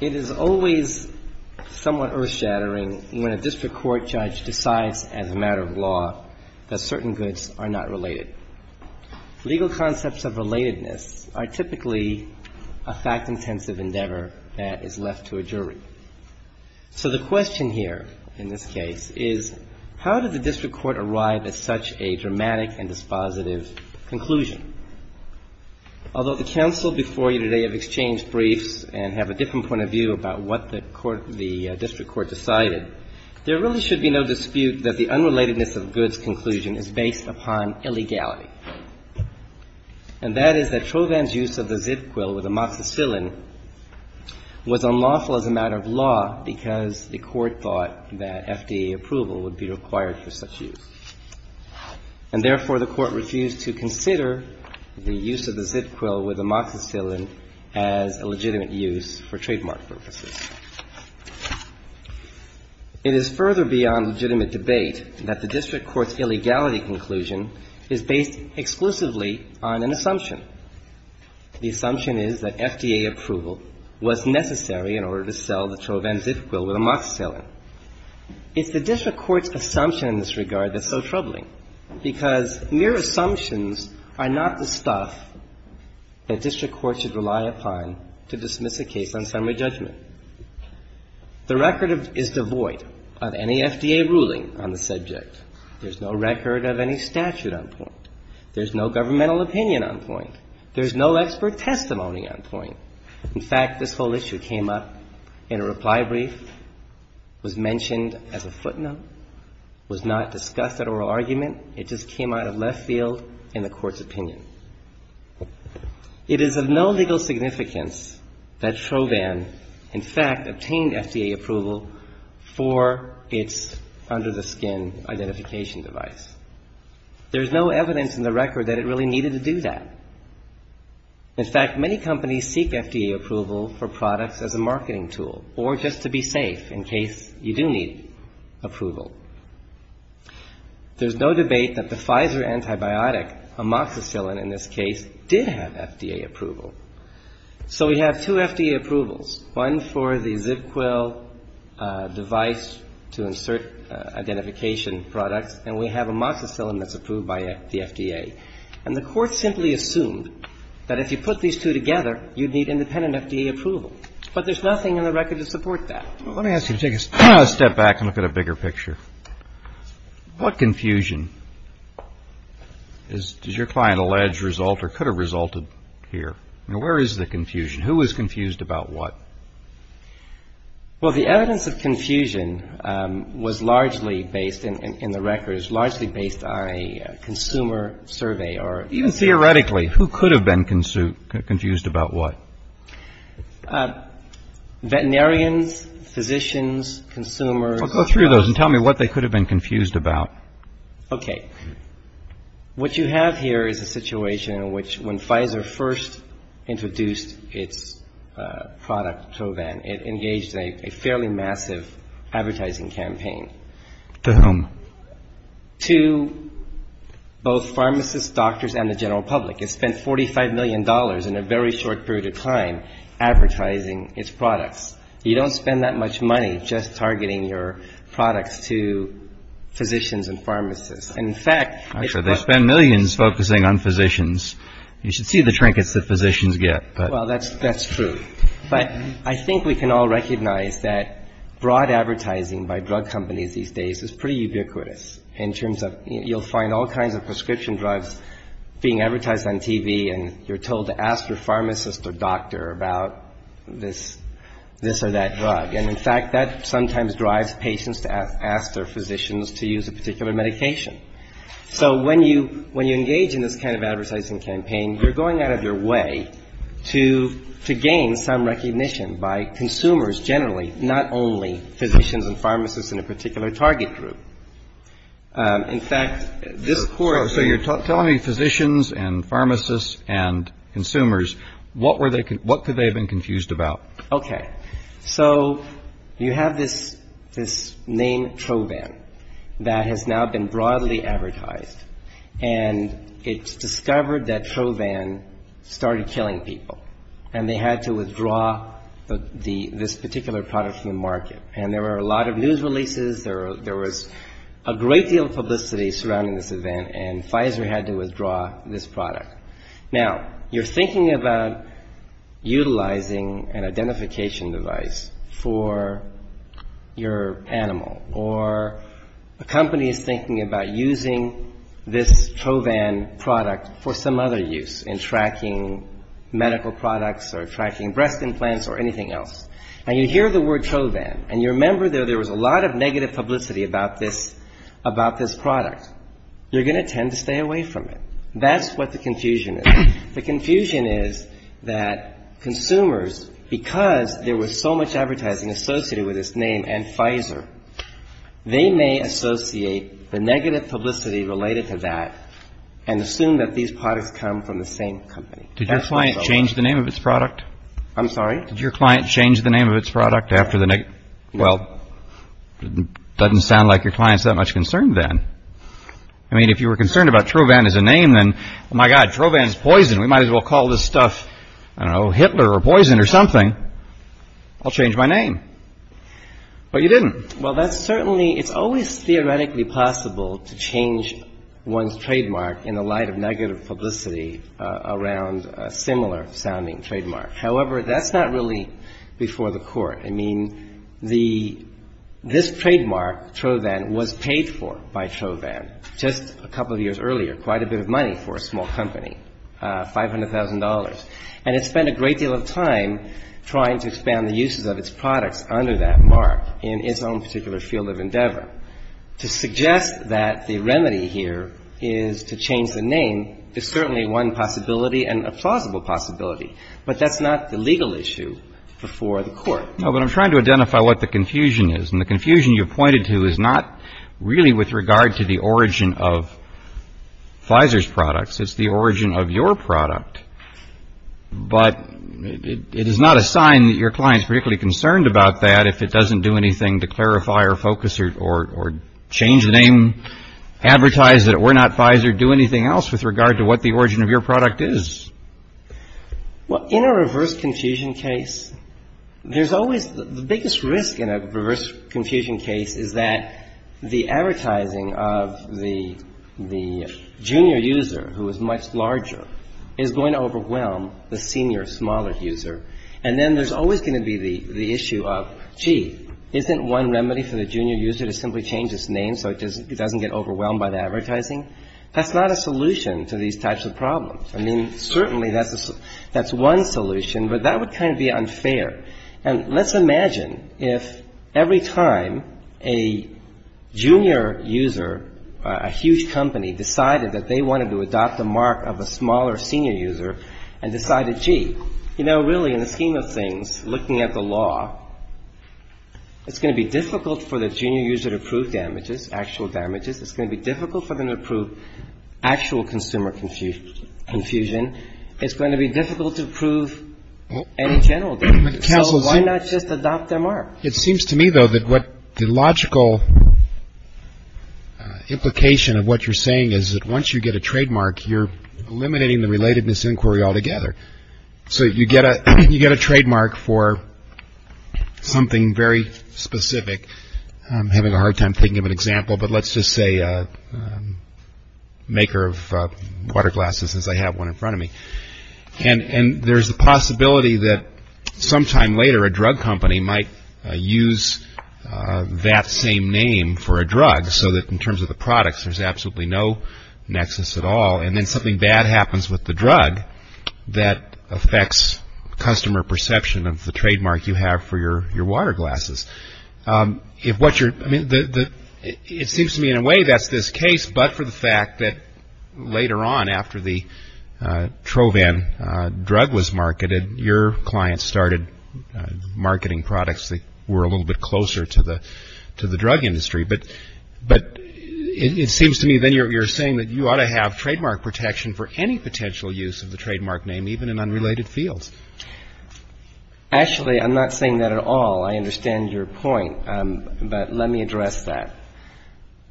It is always somewhat earth-shattering when a district court judge decides as a matter of law that certain goods are not related. Legal concepts of relatedness are typically a fact-intensive endeavor that is left to a jury. So the question here, in this case, is how did the district court arrive at such a dramatic and dispositive conclusion? Although the counsel before you today have exchanged briefs and have a different point of view about what the district court decided, there really should be no dispute that the unrelatedness of goods' conclusion is based upon illegality. And that is that Trovan's use of the Zivquil with amoxicillin was unlawful as a matter of law because the court thought that FDA approval would be required for such use. And therefore, the court refused to consider the use of the Zivquil with amoxicillin as a legitimate use for trademark purposes. It is further beyond legitimate debate that the district court's illegality conclusion is based exclusively on an assumption. The assumption is that FDA approval was necessary in order to sell the Trovan Zivquil with amoxicillin. It's the district court's assumption in this regard that's so troubling, because mere assumptions are not the stuff that district courts should rely upon to dismiss a case on summary judgment. The record is devoid of any FDA ruling on the subject. There's no record of any statute on point. There's no governmental opinion on point. There's no expert testimony on point. In fact, this whole issue came up in a reply brief, was mentioned as a footnote, was not discussed at oral argument. It just came out of left field in the court's opinion. It is of no legal significance that Trovan, in fact, obtained FDA approval for its under-the-skin identification device. There's no evidence in the record that it really needed to do that. In fact, many companies seek FDA approval for products as a marketing tool or just to be safe in case you do need approval. There's no debate that the Pfizer antibiotic, amoxicillin in this case, did have FDA approval. So we have two FDA approvals, one for the Zivquil device to insert identification products, and we have amoxicillin that's approved by the FDA. And the Court simply assumed that if you put these two together, you'd need independent FDA approval. But there's nothing in the record to support that. Well, let me ask you to take a step back and look at a bigger picture. What confusion does your client allege result or could have resulted here? I mean, where is the confusion? Who is confused about what? Well, the evidence of confusion was largely based in the records, largely based on a consumer survey. Even theoretically, who could have been confused about what? Veterinarians, physicians, consumers. Go through those and tell me what they could have been confused about. Okay. What you have here is a situation in which when Pfizer first introduced its product, Provan, it engaged a fairly massive advertising campaign. To whom? To both pharmacists, doctors, and the general public. It spent $45 million in a very short period of time advertising its products. You don't spend that much money just targeting your products to physicians and pharmacists. In fact — Actually, they spend millions focusing on physicians. You should see the trinkets that physicians get. Well, that's true. But I think we can all recognize that broad advertising by drug companies these days is pretty ubiquitous in terms of — you'll find all kinds of prescription drugs being advertised on TV, and you're told to ask your pharmacist or doctor about this or that drug. And, in fact, that sometimes drives patients to ask their physicians to use a particular medication. So when you engage in this kind of advertising campaign, you're going out of your way to gain some recognition by consumers generally, not only physicians and pharmacists in a particular target group. In fact, this Court — So when you say physicians and pharmacists and consumers, what could they have been confused about? Okay. So you have this name Trovan that has now been broadly advertised, and it's discovered that Trovan started killing people, and they had to withdraw this particular product from the market. And there were a lot of news releases, there was a great deal of publicity surrounding this event, and Pfizer had to withdraw this product. Now, you're thinking about utilizing an identification device for your animal, or a company is thinking about using this Trovan product for some other use, in tracking medical products or tracking breast implants or anything else. Now, you hear the word Trovan, and you remember that there was a lot of negative publicity about this product. You're going to tend to stay away from it. That's what the confusion is. The confusion is that consumers, because there was so much advertising associated with this name and Pfizer, they may associate the negative publicity related to that and assume that these products come from the same company. Did your client change the name of its product? I'm sorry? Did your client change the name of its product after the — Well, it doesn't sound like your client's that much concerned then. I mean, if you were concerned about Trovan as a name, then, oh, my God, Trovan is poison. We might as well call this stuff, I don't know, Hitler or poison or something. I'll change my name. But you didn't. Well, that's certainly — it's always theoretically possible to change one's trademark in the light of negative publicity around a similar-sounding trademark. However, that's not really before the court. I mean, the — this trademark, Trovan, was paid for by Trovan just a couple of years earlier, quite a bit of money for a small company, $500,000. And it spent a great deal of time trying to expand the uses of its products under that mark in its own particular field of endeavor. To suggest that the remedy here is to change the name is certainly one possibility and a plausible possibility. But that's not the legal issue before the court. No, but I'm trying to identify what the confusion is. And the confusion you pointed to is not really with regard to the origin of Pfizer's products. It's the origin of your product. But it is not a sign that your client's particularly concerned about that if it doesn't do anything to clarify or focus or change the name, I mean, advertise that we're not Pfizer, do anything else with regard to what the origin of your product is. Well, in a reverse confusion case, there's always — the biggest risk in a reverse confusion case is that the advertising of the junior user, who is much larger, is going to overwhelm the senior, smaller user. And then there's always going to be the issue of, gee, isn't one remedy for the junior user to simply change its name so it doesn't get overwhelmed by the advertising? That's not a solution to these types of problems. I mean, certainly that's one solution. But that would kind of be unfair. And let's imagine if every time a junior user, a huge company, decided that they wanted to adopt the mark of a smaller senior user and decided, gee, you know, really, in the scheme of things, looking at the law, it's going to be difficult for the junior user to prove damages, actual damages. It's going to be difficult for them to prove actual consumer confusion. It's going to be difficult to prove any general damages. So why not just adopt their mark? It seems to me, though, that what the logical implication of what you're saying is that once you get a trademark, you're eliminating the relatedness inquiry altogether. So you get a trademark for something very specific. I'm having a hard time thinking of an example, but let's just say maker of water glasses, as I have one in front of me. And there's a possibility that sometime later a drug company might use that same name for a drug so that in terms of the products, there's absolutely no nexus at all. And then something bad happens with the drug that affects customer perception of the trademark you have for your water glasses. It seems to me, in a way, that's this case, but for the fact that later on, after the Trovan drug was marketed, your client started marketing products that were a little bit closer to the drug industry. But it seems to me then you're saying that you ought to have trademark protection for any potential use of the trademark name, even in unrelated fields. Actually, I'm not saying that at all. I understand your point. But let me address that.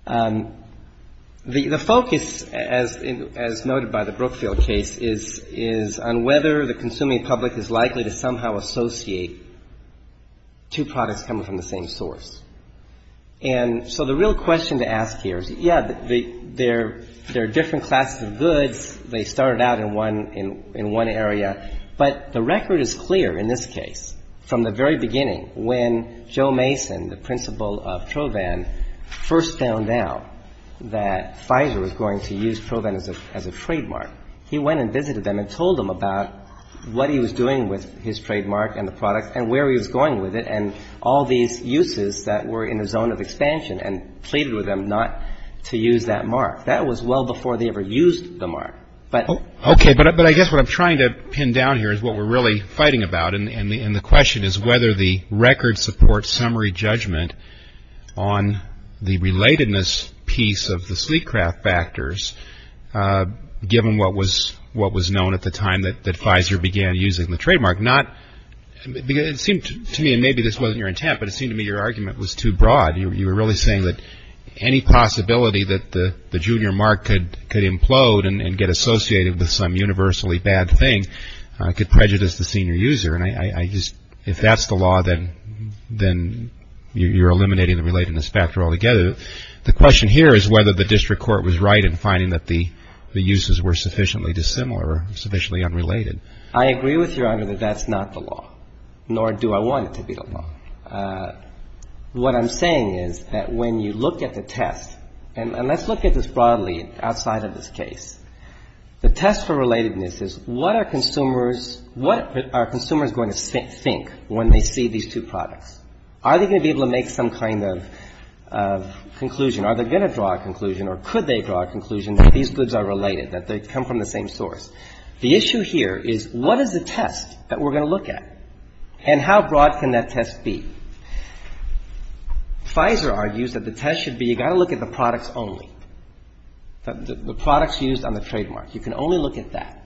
The focus, as noted by the Brookfield case, is on whether the consuming public is likely to somehow associate two products coming from the same source. And so the real question to ask here is, yeah, there are different classes of goods. They started out in one area. But the record is clear in this case. From the very beginning, when Joe Mason, the principal of Trovan, first found out that Pfizer was going to use Trovan as a trademark, he went and visited them and told them about what he was doing with his trademark and the product and where he was going with it and all these uses that were in the zone of expansion and pleaded with them not to use that mark. That was well before they ever used the mark. Okay, but I guess what I'm trying to pin down here is what we're really fighting about. And the question is whether the record supports summary judgment on the relatedness piece of the sleek craft factors, given what was known at the time that Pfizer began using the trademark. It seemed to me, and maybe this wasn't your intent, but it seemed to me your argument was too broad. You were really saying that any possibility that the junior mark could implode and get associated with some universally bad thing could prejudice the senior user. And I just, if that's the law, then you're eliminating the relatedness factor altogether. The question here is whether the district court was right in finding that the uses were sufficiently dissimilar, sufficiently unrelated. I agree with Your Honor that that's not the law, nor do I want it to be the law. What I'm saying is that when you look at the test, and let's look at this broadly outside of this case, the test for relatedness is what are consumers going to think when they see these two products? Are they going to be able to make some kind of conclusion? Are they going to draw a conclusion or could they draw a conclusion that these goods are related, that they come from the same source? The issue here is what is the test that we're going to look at and how broad can that test be? Pfizer argues that the test should be you've got to look at the products only, the products used on the trademark. You can only look at that.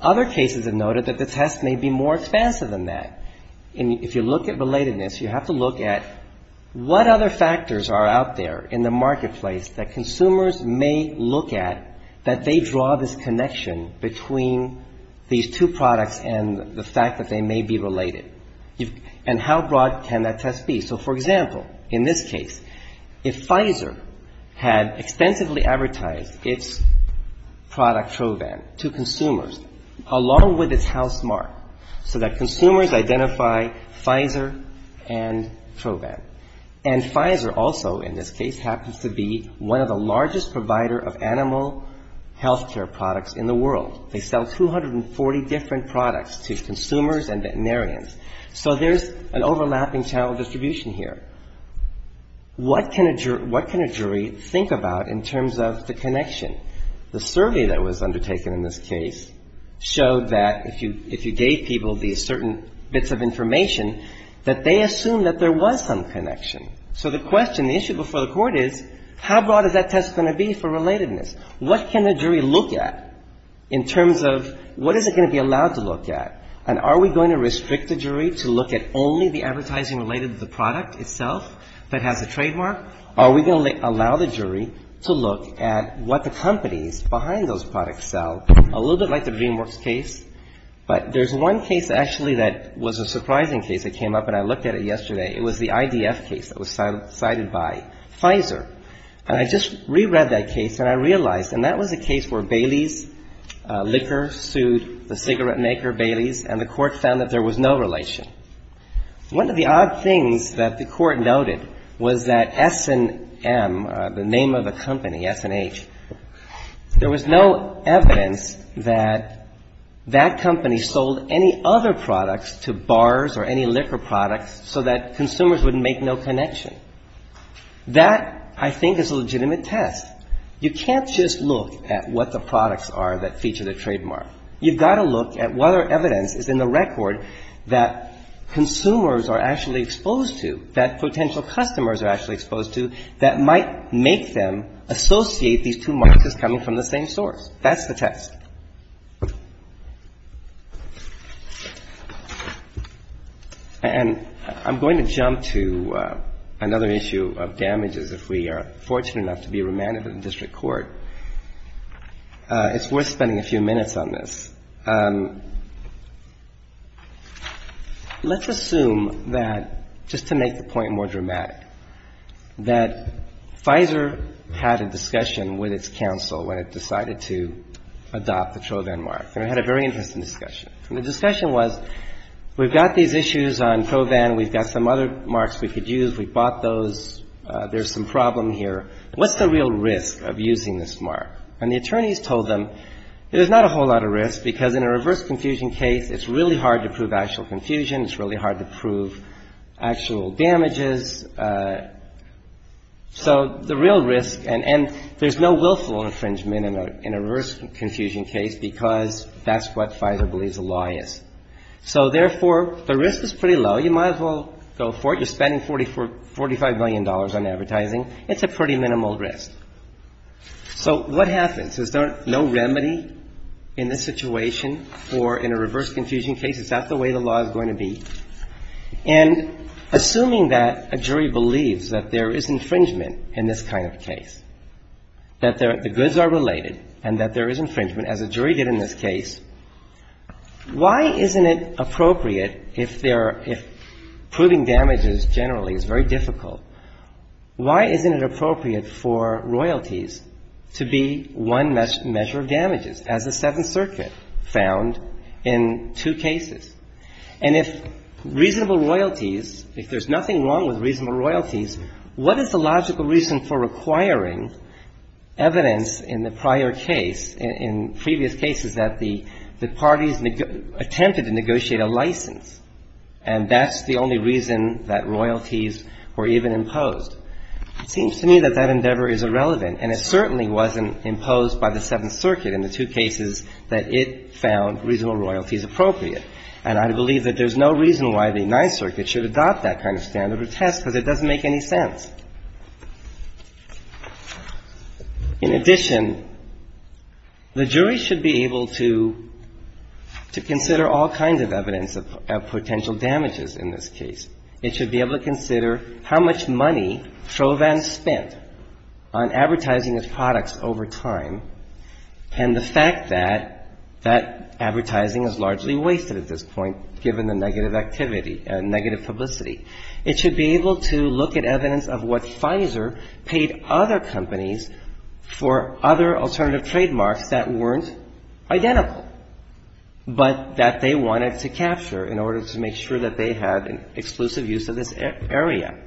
Other cases have noted that the test may be more expansive than that. And if you look at relatedness, you have to look at what other factors are out there in the marketplace that consumers may look at that they draw this connection between these two products and the fact that they may be related. And how broad can that test be? So, for example, in this case, if Pfizer had extensively advertised its product Trovan to consumers, along with its house mark, so that consumers identify Pfizer and Trovan. And Pfizer also, in this case, happens to be one of the largest provider of animal health care products in the world. They sell 240 different products to consumers and veterinarians. So there's an overlapping channel distribution here. What can a jury think about in terms of the connection? The survey that was undertaken in this case showed that if you gave people these certain bits of information, that they assumed that there was some connection. So the question, the issue before the Court is, how broad is that test going to be for relatedness? What can the jury look at in terms of what is it going to be allowed to look at? And are we going to restrict the jury to look at only the advertising related to the product itself that has a trademark? Are we going to allow the jury to look at what the companies behind those products sell? A little bit like the DreamWorks case, but there's one case actually that was a surprising case that came up, and I looked at it yesterday. It was the IDF case that was cited by Pfizer. And I just reread that case, and I realized, and that was a case where Bailey's Liquor sued the cigarette maker, Bailey's, and the Court found that there was no relation. One of the odd things that the Court noted was that S&M, the name of the company, S&H, there was no evidence that that company sold any other products to bars or any liquor products so that consumers would make no connection. That, I think, is a legitimate test. You can't just look at what the products are that feature the trademark. You've got to look at whether evidence is in the record that consumers are actually exposed to, that potential customers are actually exposed to, that might make them associate these two markets as coming from the same source. That's the test. And I'm going to jump to another issue of damages if we are fortunate enough to be remanded to the district court. It's worth spending a few minutes on this. Let's assume that, just to make the point more dramatic, that Pfizer had a discussion with its counsel when it decided to adopt the Trovan mark, and it had a very interesting discussion. And the discussion was, we've got these issues on Trovan. We've got some other marks we could use. We bought those. There's some problem here. What's the real risk of using this mark? And the attorneys told them, there's not a whole lot of risk, because in a reverse confusion case, it's really hard to prove actual confusion, it's really hard to prove actual damages. So the real risk, and there's no willful infringement in a reverse confusion case, because that's what Pfizer believes the law is. So, therefore, the risk is pretty low. You might as well go for it. You're spending $45 million on advertising. It's a pretty minimal risk. So what happens? Is there no remedy in this situation? Or in a reverse confusion case, is that the way the law is going to be? And assuming that a jury believes that there is infringement in this kind of case, that the goods are related and that there is infringement, as a jury did in this case, why isn't it appropriate if there are — if proving damages generally is very difficult, why isn't it appropriate for royalties to be one measure of damages, as the Seventh Circuit found in two cases? And if reasonable royalties, if there's nothing wrong with reasonable royalties, what is the logical reason for requiring evidence in the prior case, in previous cases, that the parties attempted to negotiate a license, and that's the only reason that royalties were even imposed? It seems to me that that endeavor is irrelevant, and it certainly wasn't imposed by the Seventh Circuit in the two cases that it found reasonable royalties appropriate. And I believe that there's no reason why the Ninth Circuit should adopt that kind of standard or test, because it doesn't make any sense. In addition, the jury should be able to consider all kinds of evidence of potential damages in this case. It should be able to consider how much money Trovan spent on advertising his products over time, and the fact that that advertising is largely wasted at this point, given the negative activity and negative publicity. It should be able to look at evidence of what Pfizer paid other companies for other alternative trademarks that weren't identical, but that they wanted to capture in order to make sure that they had exclusive use of this area.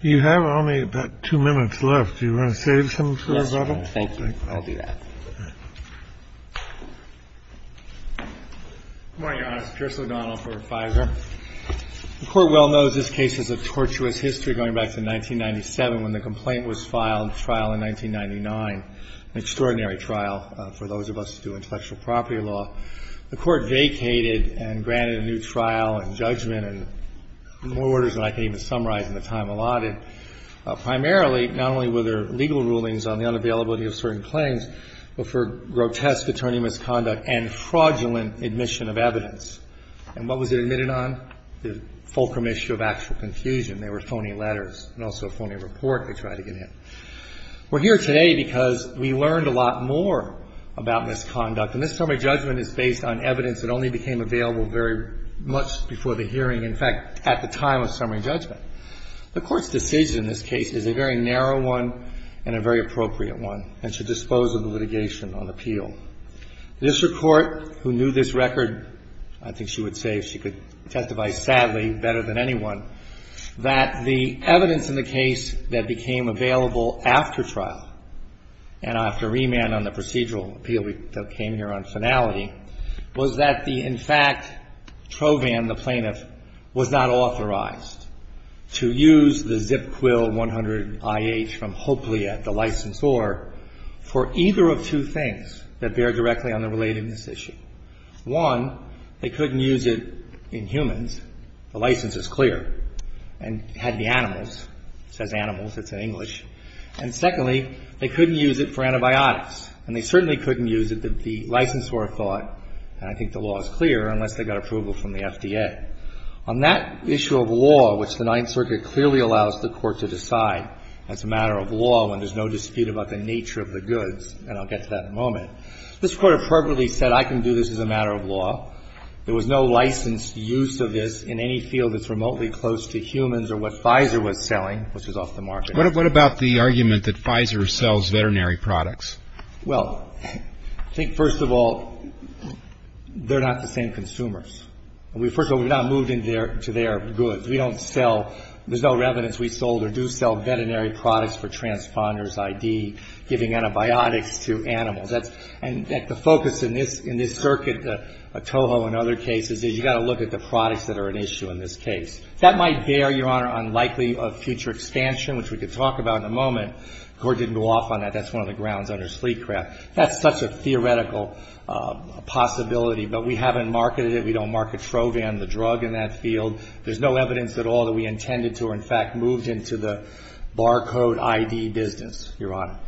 You have only about two minutes left. Do you want to say something? Yes, Your Honor. Thank you. I'll do that. Good morning, Your Honor. It's Chris O'Donnell for Pfizer. The Court well knows this case has a tortuous history going back to 1997, when the complaint was filed in trial in 1999, an extraordinary trial for those of us who do intellectual property law. The Court vacated and granted a new trial and judgment and more orders than I can even summarize in the time allotted. Primarily, not only were there legal rulings on the unavailability of certain claims, but for grotesque attorney misconduct and fraudulent admission of evidence. And what was it admitted on? The fulcrum issue of actual confusion. There were phony letters and also a phony report they tried to get in. We're here today because we learned a lot more about misconduct. And this summary judgment is based on evidence that only became available very much before the hearing, in fact, at the time of summary judgment. The Court's decision in this case is a very narrow one and a very appropriate one, and should dispose of the litigation on appeal. This Court, who knew this record, I think she would say, if she could testify sadly better than anyone, that the evidence in the case that became available after trial and after remand on the procedural appeal that came here on finality was that the, in fact, Trovan, the plaintiff, was not authorized to use the ZIP Quill 100IH from Hoeplea, the licensor, for either of two things that bear directly on the relatedness issue. One, they couldn't use it in humans. The license is clear. And it had to be animals. It says animals. It's in English. And secondly, they couldn't use it for antibiotics. And they certainly couldn't use it, the licensor thought, and I think the law is clear, unless they got approval from the FDA. On that issue of law, which the Ninth Circuit clearly allows the Court to decide as a matter of law when there's no dispute about the nature of the goods, and I'll get to that in a moment, this Court appropriately said, I can do this as a matter of law. There was no licensed use of this in any field that's remotely close to humans or what Pfizer was selling, which was off the market. What about the argument that Pfizer sells veterinary products? Well, I think, first of all, they're not the same consumers. First of all, we're not moving to their goods. We don't sell, there's no evidence we sold or do sell veterinary products for transponders, ID, giving antibiotics to animals. And the focus in this circuit, Toho and other cases, is you've got to look at the products that are an issue in this case. That might bear, Your Honor, on likely future expansion, which we could talk about in a moment. The Court didn't go off on that. That's one of the grounds under Sleekcraft. That's such a theoretical possibility, but we haven't marketed it. We don't market Trovan, the drug, in that field. There's no evidence at all that we intended to or, in fact, moved into the barcode ID business, Your Honor.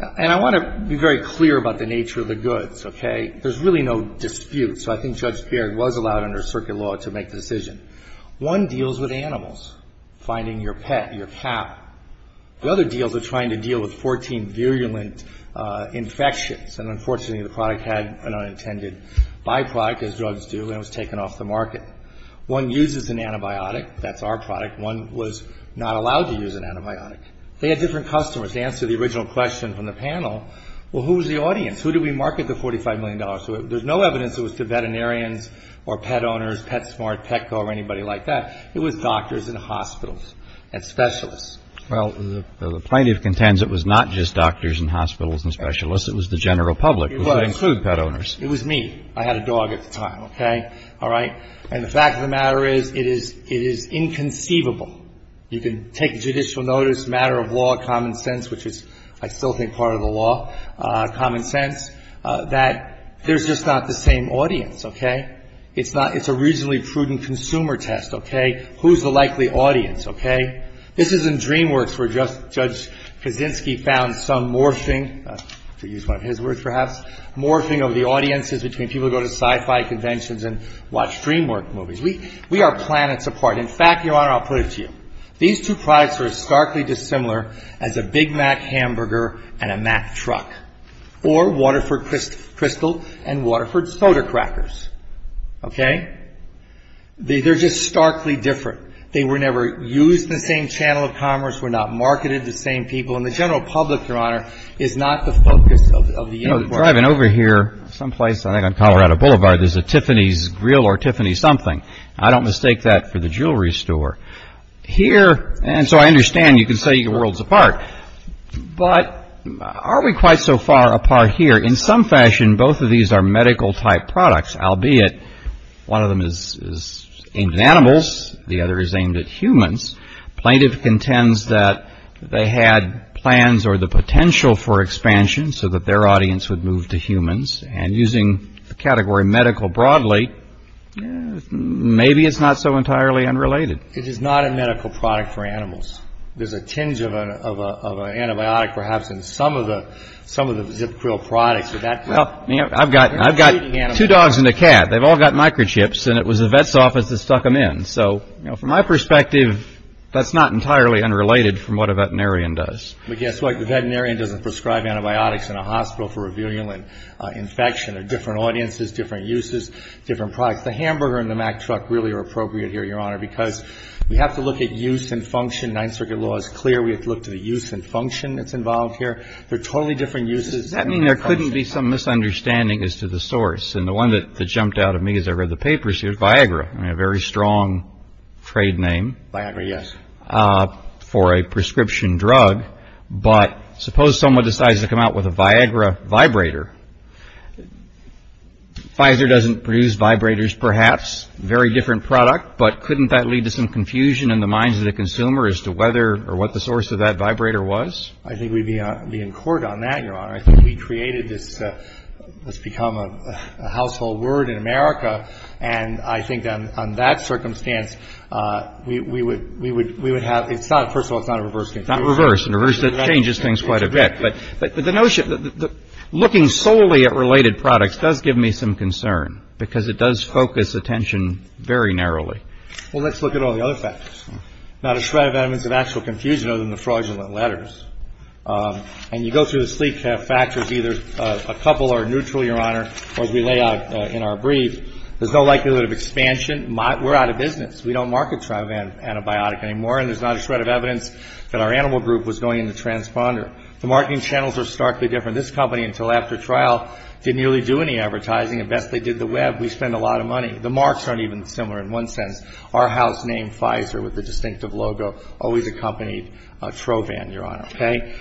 And I want to be very clear about the nature of the goods, okay? There's really no dispute. So I think Judge Beard was allowed under circuit law to make the decision. One deals with animals, finding your pet, your cat. The other deals are trying to deal with 14 virulent infections. And unfortunately, the product had an unintended byproduct, as drugs do, and it was taken off the market. One uses an antibiotic. That's our product. One was not allowed to use an antibiotic. They had different customers. To answer the original question from the panel, well, who was the audience? Who did we market the $45 million to? There's no evidence it was to veterinarians or pet owners, PetSmart, Petco, or anybody like that. It was doctors and hospitals and specialists. Well, the plaintiff contends it was not just doctors and hospitals and specialists. It was the general public, which would include pet owners. It was me. I had a dog at the time, okay? All right? And the fact of the matter is it is inconceivable. You can take judicial notice, matter of law, common sense, which is, I still think, part of the law, common sense, that there's just not the same audience, okay? It's a reasonably prudent consumer test, okay? Who's the likely audience, okay? This isn't DreamWorks where Judge Kaczynski found some morphing, to use one of his words perhaps, morphing of the audiences between people who go to sci-fi conventions and watch DreamWorks movies. We are planets apart. In fact, Your Honor, I'll put it to you. These two products are starkly dissimilar as a Big Mac hamburger and a Mac truck, or Waterford Crystal and Waterford's soda crackers, okay? They're just starkly different. They were never used in the same channel of commerce, were not marketed to the same people, and the general public, Your Honor, is not the focus of the inquiry. You know, driving over here someplace, I think on Colorado Boulevard, there's a Tiffany's Grill or Tiffany something. I don't mistake that for the jewelry store. Here, and so I understand, you can say your world's apart, but are we quite so far apart here? In some fashion, both of these are medical-type products, albeit one of them is aimed at animals, the other is aimed at humans. Plaintiff contends that they had plans or the potential for expansion so that their audience would move to humans, and using the category medical broadly, maybe it's not so entirely unrelated. It is not a medical product for animals. There's a tinge of an antibiotic perhaps in some of the Zip Grill products. Well, I've got two dogs and a cat. They've all got microchips, and it was the vet's office that stuck them in. So from my perspective, that's not entirely unrelated from what a veterinarian does. But guess what? The veterinarian doesn't prescribe antibiotics in a hospital for a virulent infection. They're different audiences, different uses, different products. The hamburger and the Mack truck really are appropriate here, Your Honor, because we have to look at use and function. Ninth Circuit law is clear. We have to look to the use and function that's involved here. They're totally different uses. Does that mean there couldn't be some misunderstanding as to the source? And the one that jumped out at me as I read the papers here is Viagra, a very strong trade name. Viagra, yes. For a prescription drug. But suppose someone decides to come out with a Viagra vibrator. Pfizer doesn't produce vibrators, perhaps. Very different product. But couldn't that lead to some confusion in the minds of the consumer as to whether or what the source of that vibrator was? I think we'd be in court on that, Your Honor. I think we created this. It's become a household word in America. And I think on that circumstance, we would have – first of all, it's not a reverse confusion. It's not reverse. Reverse changes things quite a bit. But the notion – looking solely at related products does give me some concern because it does focus attention very narrowly. Well, let's look at all the other factors. Not a shred of evidence of actual confusion other than the fraudulent letters. And you go through the three factors, either a couple are neutral, Your Honor, or as we lay out in our brief, there's no likelihood of expansion. We're out of business. We don't market TROVAN antibiotic anymore. And there's not a shred of evidence that our animal group was going in the transponder. The marketing channels are starkly different. This company, until after trial, didn't really do any advertising. At best, they did the web. We spend a lot of money. The marks aren't even similar in one sense. Our house named Pfizer with the distinctive logo always accompanied TROVAN, Your Honor. Okay?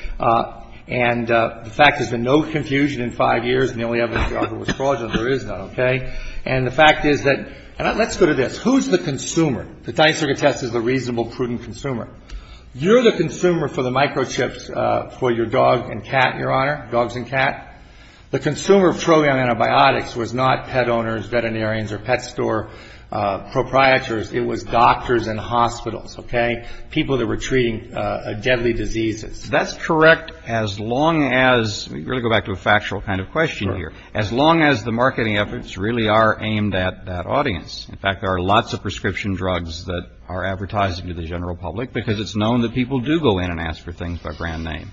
And the fact is there's been no confusion in five years, and the only evidence we offer was fraudulent. There is none, okay? And the fact is that – and let's go to this. Who's the consumer? The tiny circuit test is the reasonable, prudent consumer. You're the consumer for the microchips for your dog and cat, Your Honor, dogs and cat. The consumer of TROVAN antibiotics was not pet owners, veterinarians, or pet store proprietors. It was doctors and hospitals, okay, people that were treating deadly diseases. That's correct as long as – let me really go back to a factual kind of question here. As long as the marketing efforts really are aimed at that audience. In fact, there are lots of prescription drugs that are advertised to the general public because it's known that people do go in and ask for things by brand name.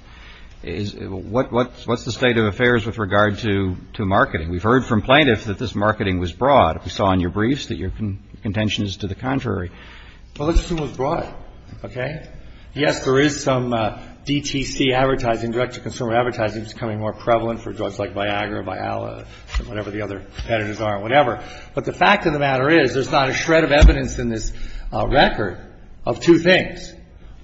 What's the state of affairs with regard to marketing? We've heard from plaintiffs that this marketing was broad. We saw in your briefs that your contention is to the contrary. Well, it was broad, okay? Yes, there is some DTC advertising, direct-to-consumer advertising, which is becoming more prevalent for drugs like Viagra, Viala, whatever the other competitors are, whatever. But the fact of the matter is there's not a shred of evidence in this record of two things.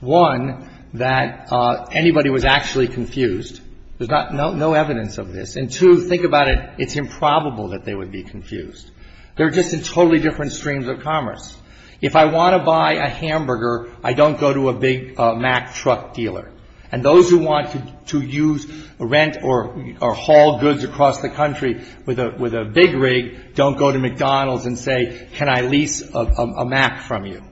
One, that anybody was actually confused. There's no evidence of this. And two, think about it. It's improbable that they would be confused. They're just in totally different streams of commerce. If I want to buy a hamburger, I don't go to a big Mac truck dealer. And those who want to use rent or haul goods across the country with a big rig don't go to McDonald's and say, can I lease a Mac from you?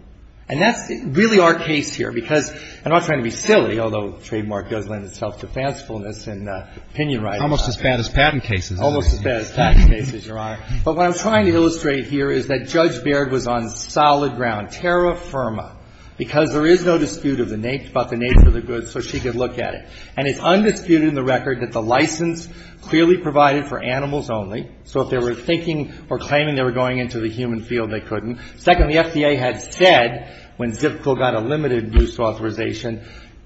And that's really our case here, because I'm not trying to be silly, although Trademark does lend itself to fancifulness and opinion writing. It's almost as bad as patent cases. Almost as bad as patent cases, Your Honor. But what I'm trying to illustrate here is that Judge Baird was on solid ground, terra firma, because there is no dispute about the nature of the goods, so she could look at it. And it's undisputed in the record that the license clearly provided for animals only. So if they were thinking or claiming they were going into the human field, they couldn't. Second, the FDA had said, when Zipco got a limited use authorization,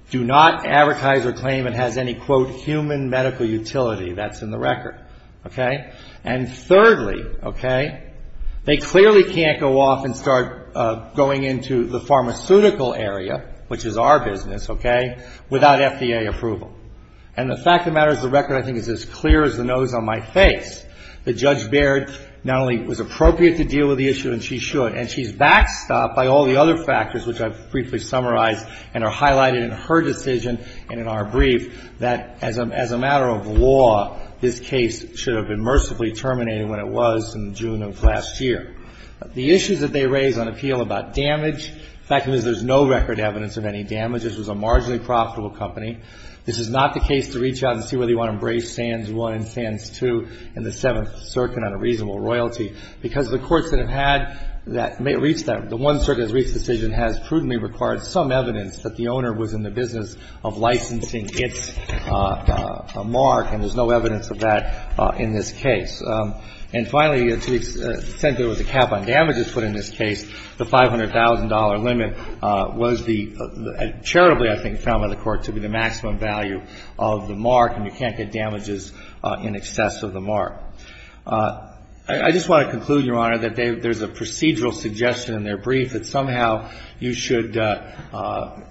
do not advertise or claim it has any, quote, human medical utility. That's in the record. Okay? And thirdly, okay, they clearly can't go off and start going into the pharmaceutical area, which is our business, okay, without FDA approval. And the fact of the matter is the record, I think, is as clear as the nose on my face, that Judge Baird not only was appropriate to deal with the issue, and she should, and she's backstopped by all the other factors, which I've briefly summarized and are highlighted in her decision and in our brief, that as a matter of law, this case should have been mercifully terminated when it was in June of last year. The issues that they raise on appeal about damage, the fact of the matter is there's no record evidence of any damage. This was a marginally profitable company. This is not the case to reach out and see whether you want to embrace Sands I and Sands II in the Seventh Circuit on a reasonable royalty, because the courts that have had that may have reached that, the one circuit that has reached the decision has prudently required some evidence that the owner was in the business of licensing its mark, and there's no evidence of that in this case. And finally, to the extent there was a cap on damages put in this case, the $500,000 limit was the, charitably, I think, found by the Court to be the maximum value of the mark, and you can't get damages in excess of the mark. I just want to conclude, Your Honor, that there's a procedural suggestion in their brief that somehow you should also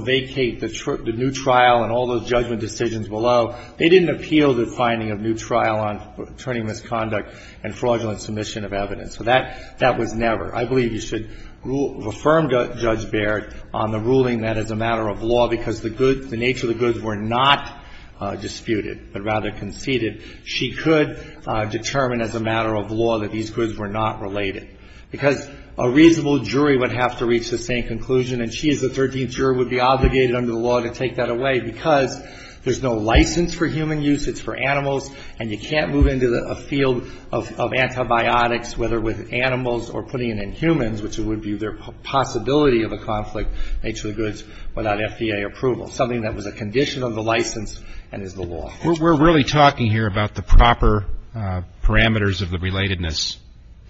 vacate the new trial and all those judgment decisions below. They didn't appeal the finding of new trial on attorney misconduct and fraudulent submission of evidence. So that was never. I believe you should affirm Judge Baird on the ruling that as a matter of law, because the good, the nature of the goods were not disputed, but rather conceded, she could determine as a matter of law that these goods were not related. Because a reasonable jury would have to reach the same conclusion, and she as the 13th juror would be obligated under the law to take that away, because there's no license for human use. It's for animals, and you can't move into a field of antibiotics, whether with animals or putting it in humans, which would be the possibility of a conflict, nature of the goods, without FDA approval, something that was a condition of the license and is the law. We're really talking here about the proper parameters of the relatedness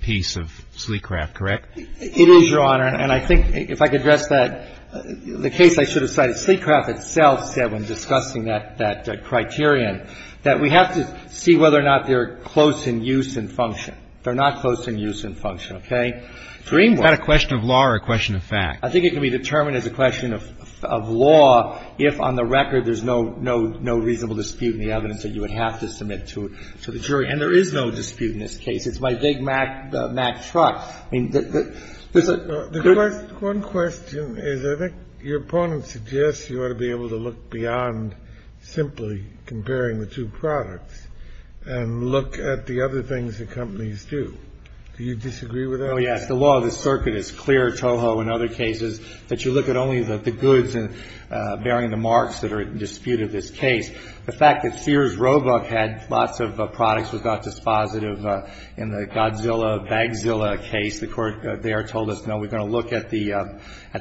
piece of Sleecraft, correct? It is, Your Honor. And I think, if I could address that, the case I should have cited, Sleecraft itself said when discussing that criterion that we have to see whether or not they are close in use and function. They're not close in use and function, okay? Dream work. It's not a question of law or a question of fact. I think it can be determined as a question of law if on the record there's no reasonable dispute in the evidence that you would have to submit to the jury. And there is no dispute in this case. It's my big Mack truck. I mean, there's a good question. One question is I think your opponent suggests you ought to be able to look beyond simply comparing the two products and look at the other things that companies do. Do you disagree with that? Oh, yes. The law of the circuit is clear, Toho, in other cases, that you look at only the goods bearing the marks that are in dispute of this case. The fact that Sears Roebuck had lots of products that got dispositive in the Godzilla case, the court there told us, no, we're going to look at the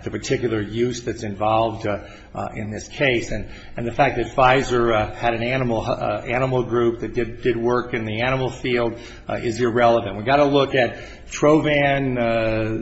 particular use that's involved in this case. And the fact that Pfizer had an animal group that did work in the animal field is irrelevant. We've got to look at Trovan,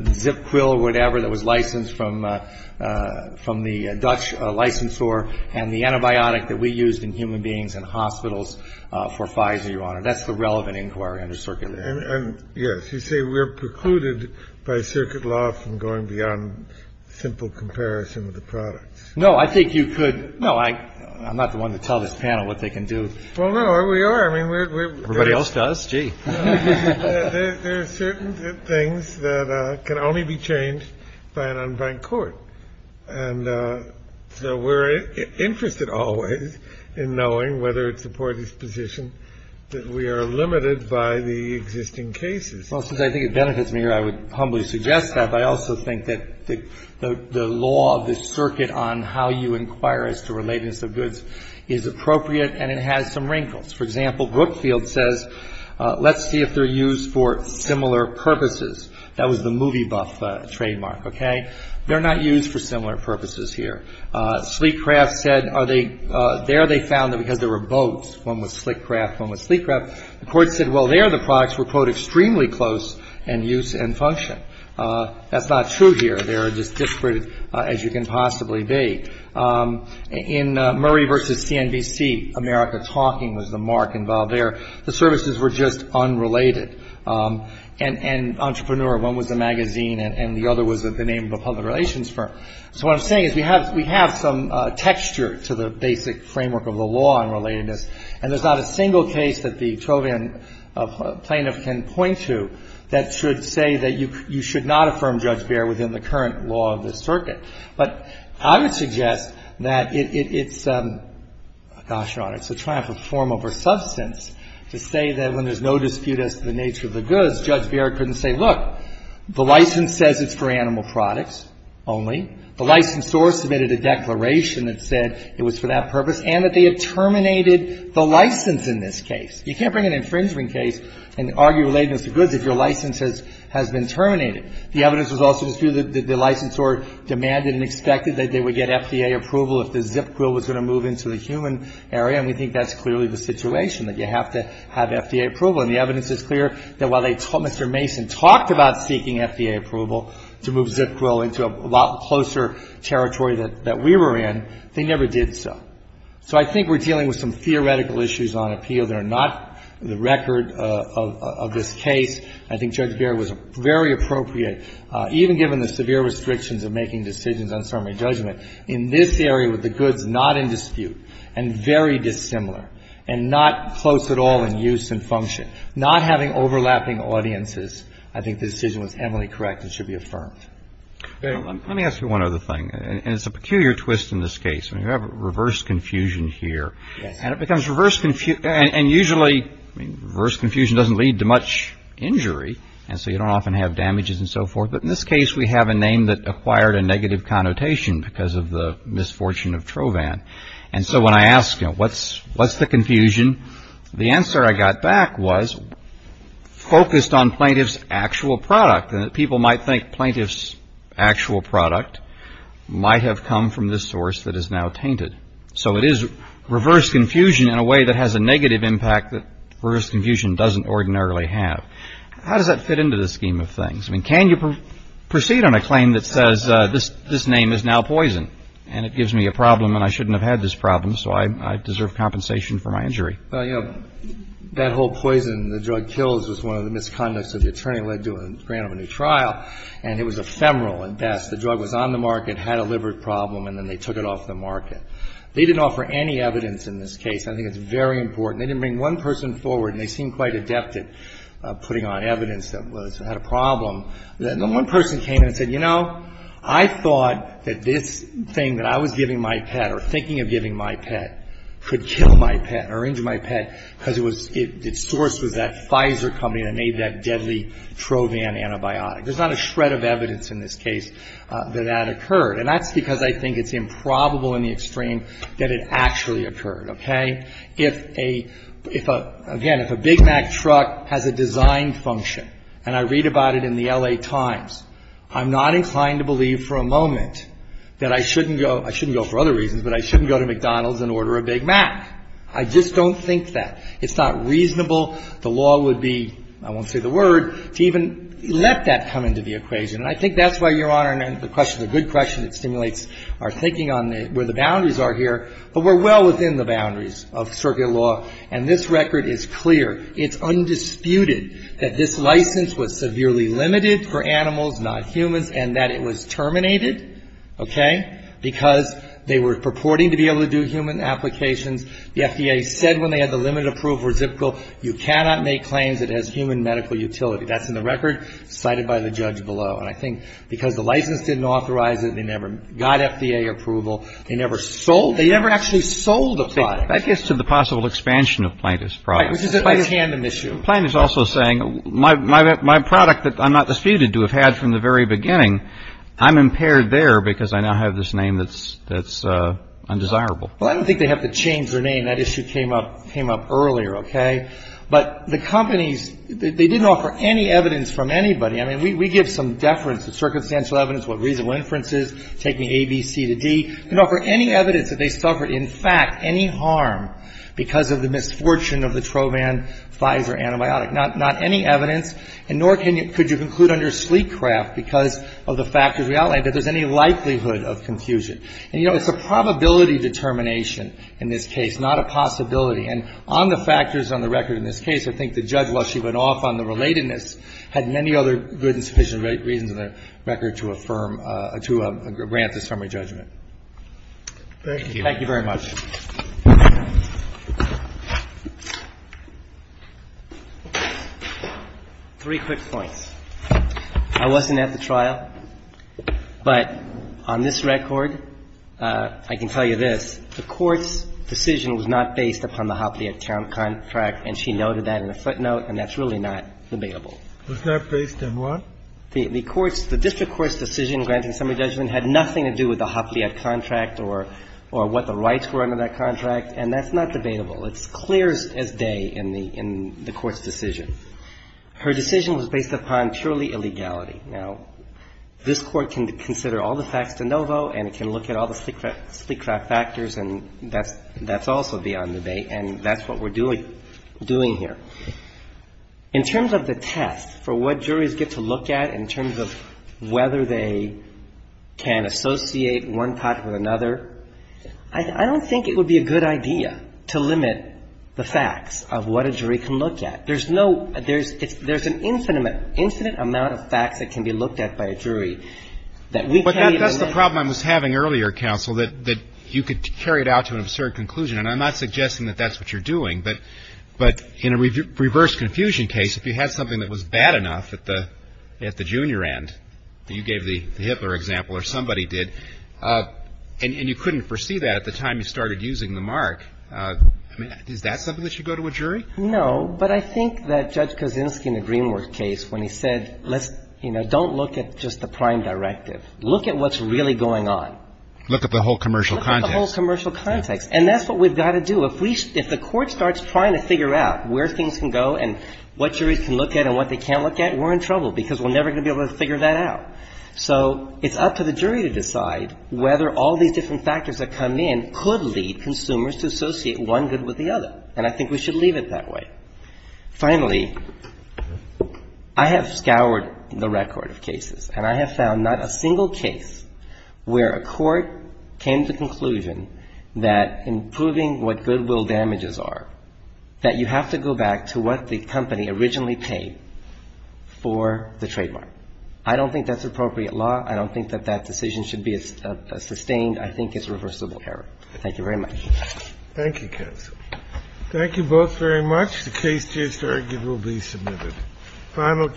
ZipQuil or whatever that was licensed from the Dutch licensor and the antibiotic that we used in human beings in hospitals for Pfizer, Your Honor. That's the relevant inquiry under circuit law. And yes, you say we're precluded by circuit law from going beyond simple comparison of the products. No, I think you could. No, I'm not the one to tell this panel what they can do. Well, no, we are. I mean, everybody else does. Gee, there are certain things that can only be changed by an unbanked court. And so we're interested always in knowing whether it's the parties position that we are limited by the existing cases. Well, since I think it benefits me here, I would humbly suggest that. But I also think that the law of the circuit on how you inquire as to relatedness of goods is appropriate and it has some wrinkles. For example, Brookfield says let's see if they're used for similar purposes. That was the movie buff trademark, okay? They're not used for similar purposes here. Sleek Craft said are they – there they found that because there were boats, one was The court said, well, there the products were, quote, extremely close in use and function. That's not true here. They're as disparate as you can possibly be. In Murray v. CNBC, America Talking was the mark involved there. The services were just unrelated. And Entrepreneur, one was a magazine and the other was the name of a public relations firm. So what I'm saying is we have some texture to the basic framework of the law on relatedness. And there's not a single case that the Trovian plaintiff can point to that should say that you should not affirm Judge Baird within the current law of the circuit. But I would suggest that it's – gosh, Your Honor, it's a triumph of form over substance to say that when there's no dispute as to the nature of the goods, Judge Baird couldn't say, look, the license says it's for animal products only. The licensor submitted a declaration that said it was for that purpose and that they had terminated the license in this case. You can't bring an infringement case and argue relatedness of goods if your license has been terminated. The evidence was also disputed that the licensor demanded and expected that they would get FDA approval if the ZIP code was going to move into the human area, and we think that's clearly the situation, that you have to have FDA approval. And the evidence is clear that while they – Mr. Mason talked about seeking FDA approval to move ZIP code into a lot closer territory that we were in, they never did so. So I think we're dealing with some theoretical issues on appeal that are not the record of this case. I think Judge Baird was very appropriate, even given the severe restrictions of making decisions on summary judgment, in this area with the goods not in dispute and very dissimilar and not close at all in use and function, not having overlapping audiences, I think the decision was heavily correct and should be affirmed. Let me ask you one other thing. And it's a peculiar twist in this case. I mean, you have reverse confusion here. Yes. And it becomes reverse – and usually reverse confusion doesn't lead to much injury, and so you don't often have damages and so forth. But in this case, we have a name that acquired a negative connotation because of the misfortune of Trovan. And so when I asked, you know, what's the confusion, the answer I got back was focused on plaintiff's actual product and that people might think plaintiff's actual product might have come from this source that is now tainted. So it is reverse confusion in a way that has a negative impact that reverse confusion doesn't ordinarily have. How does that fit into the scheme of things? I mean, can you proceed on a claim that says this name is now poison and it gives me a problem and I shouldn't have had this problem, so I deserve compensation for my injury? Well, you know, that whole poison the drug kills was one of the misconducts of the attorney led to a grant of a new trial, and it was ephemeral at best. The drug was on the market, had a liver problem, and then they took it off the market. They didn't offer any evidence in this case. I think it's very important. They didn't bring one person forward, and they seemed quite adept at putting on evidence that it had a problem. Then one person came in and said, you know, I thought that this thing that I was giving my pet or thinking of giving my pet could kill my pet or injure my pet because it was its source was that Pfizer company that made that deadly Trovan antibiotic. There's not a shred of evidence in this case that that occurred, and that's because I think it's improbable in the extreme that it actually occurred, okay? If a, if a, again, if a Big Mac truck has a design function, and I read about it in the L.A. Times, I'm not inclined to believe for a moment that I shouldn't go, I shouldn't go for other reasons, but I shouldn't go to McDonald's and order a Big Mac. I just don't think that. It's not reasonable. The law would be, I won't say the word, to even let that come into the equation. And I think that's why, Your Honor, and the question, a good question, it stimulates our thinking on where the boundaries are here. But we're well within the boundaries of circuit law, and this record is clear. It's undisputed that this license was severely limited for animals, not humans, and that it was terminated, okay, because they were purporting to be able to do human applications. The FDA said when they had the limited approved reciprocal, you cannot make claims it has human medical utility. That's in the record cited by the judge below. And I think because the license didn't authorize it, they never got FDA approval, they never sold, they never actually sold the product. That gets to the possible expansion of Plaintiff's products. Right, which is a tandem issue. Plaintiff's also saying my product that I'm not disputed to have had from the very beginning, I'm impaired there because I now have this name that's undesirable. Well, I don't think they have to change their name. That issue came up earlier, okay. But the companies, they didn't offer any evidence from anybody. I mean, we give some deference to circumstantial evidence, what reasonable inference is, taking A, B, C to D. They didn't offer any evidence that they suffered, in fact, any harm because of the misfortune of the Trovan Pfizer antibiotic. Not any evidence, and nor could you conclude under Sleekcraft because of the factors we outlined that there's any likelihood of confusion. And, you know, it's a probability determination in this case, not a possibility. And on the factors on the record in this case, I think the judge, while she went off on the relatedness, had many other good and sufficient reasons on the record to affirm, to grant this summary judgment. Thank you. Thank you very much. Three quick points. I wasn't at the trial, but on this record, I can tell you this. The Court's decision was not based upon the Hopliet contract, and she noted that in a footnote, and that's really not debatable. It's not based on what? The Court's – the district court's decision granting summary judgment had nothing to do with the Hopliet contract or what the rights were under that contract, and that's not debatable. It's clear as day in the Court's decision. Her decision was based upon purely illegality. Now, this Court can consider all the facts de novo, and it can look at all the sleepcraft factors, and that's also beyond debate, and that's what we're doing here. In terms of the test for what juries get to look at in terms of whether they can associate one topic with another, I don't think it would be a good idea to limit the facts of what a jury can look at. There's no – there's an infinite amount of facts that can be looked at by a jury that we can't even limit. But that's the problem I was having earlier, Counsel, that you could carry it out to an absurd conclusion, and I'm not suggesting that that's what you're doing. But in a reverse confusion case, if you had something that was bad enough at the junior end, that you gave the Hitler example or somebody did, and you couldn't foresee that at the time you started using the mark, I mean, is that something that should go to a jury? No. But I think that Judge Kaczynski in the Greenworth case, when he said, let's – you know, don't look at just the prime directive. Look at what's really going on. Look at the whole commercial context. Look at the whole commercial context. And that's what we've got to do. If we – if the Court starts trying to figure out where things can go and what juries can look at and what they can't look at, we're in trouble, because we're never going to be able to figure that out. So it's up to the jury to decide whether all these different factors that come in could lead consumers to associate one good with the other. And I think we should leave it that way. Finally, I have scoured the record of cases, and I have found not a single case where a court came to conclusion that in proving what goodwill damages are, that you have to go back to what the company originally paid for the trademark. I don't think that's appropriate law. I don't think that that decision should be sustained. I think it's reversible error. Thank you very much. Thank you, counsel. Thank you both very much. The case just argued will be submitted.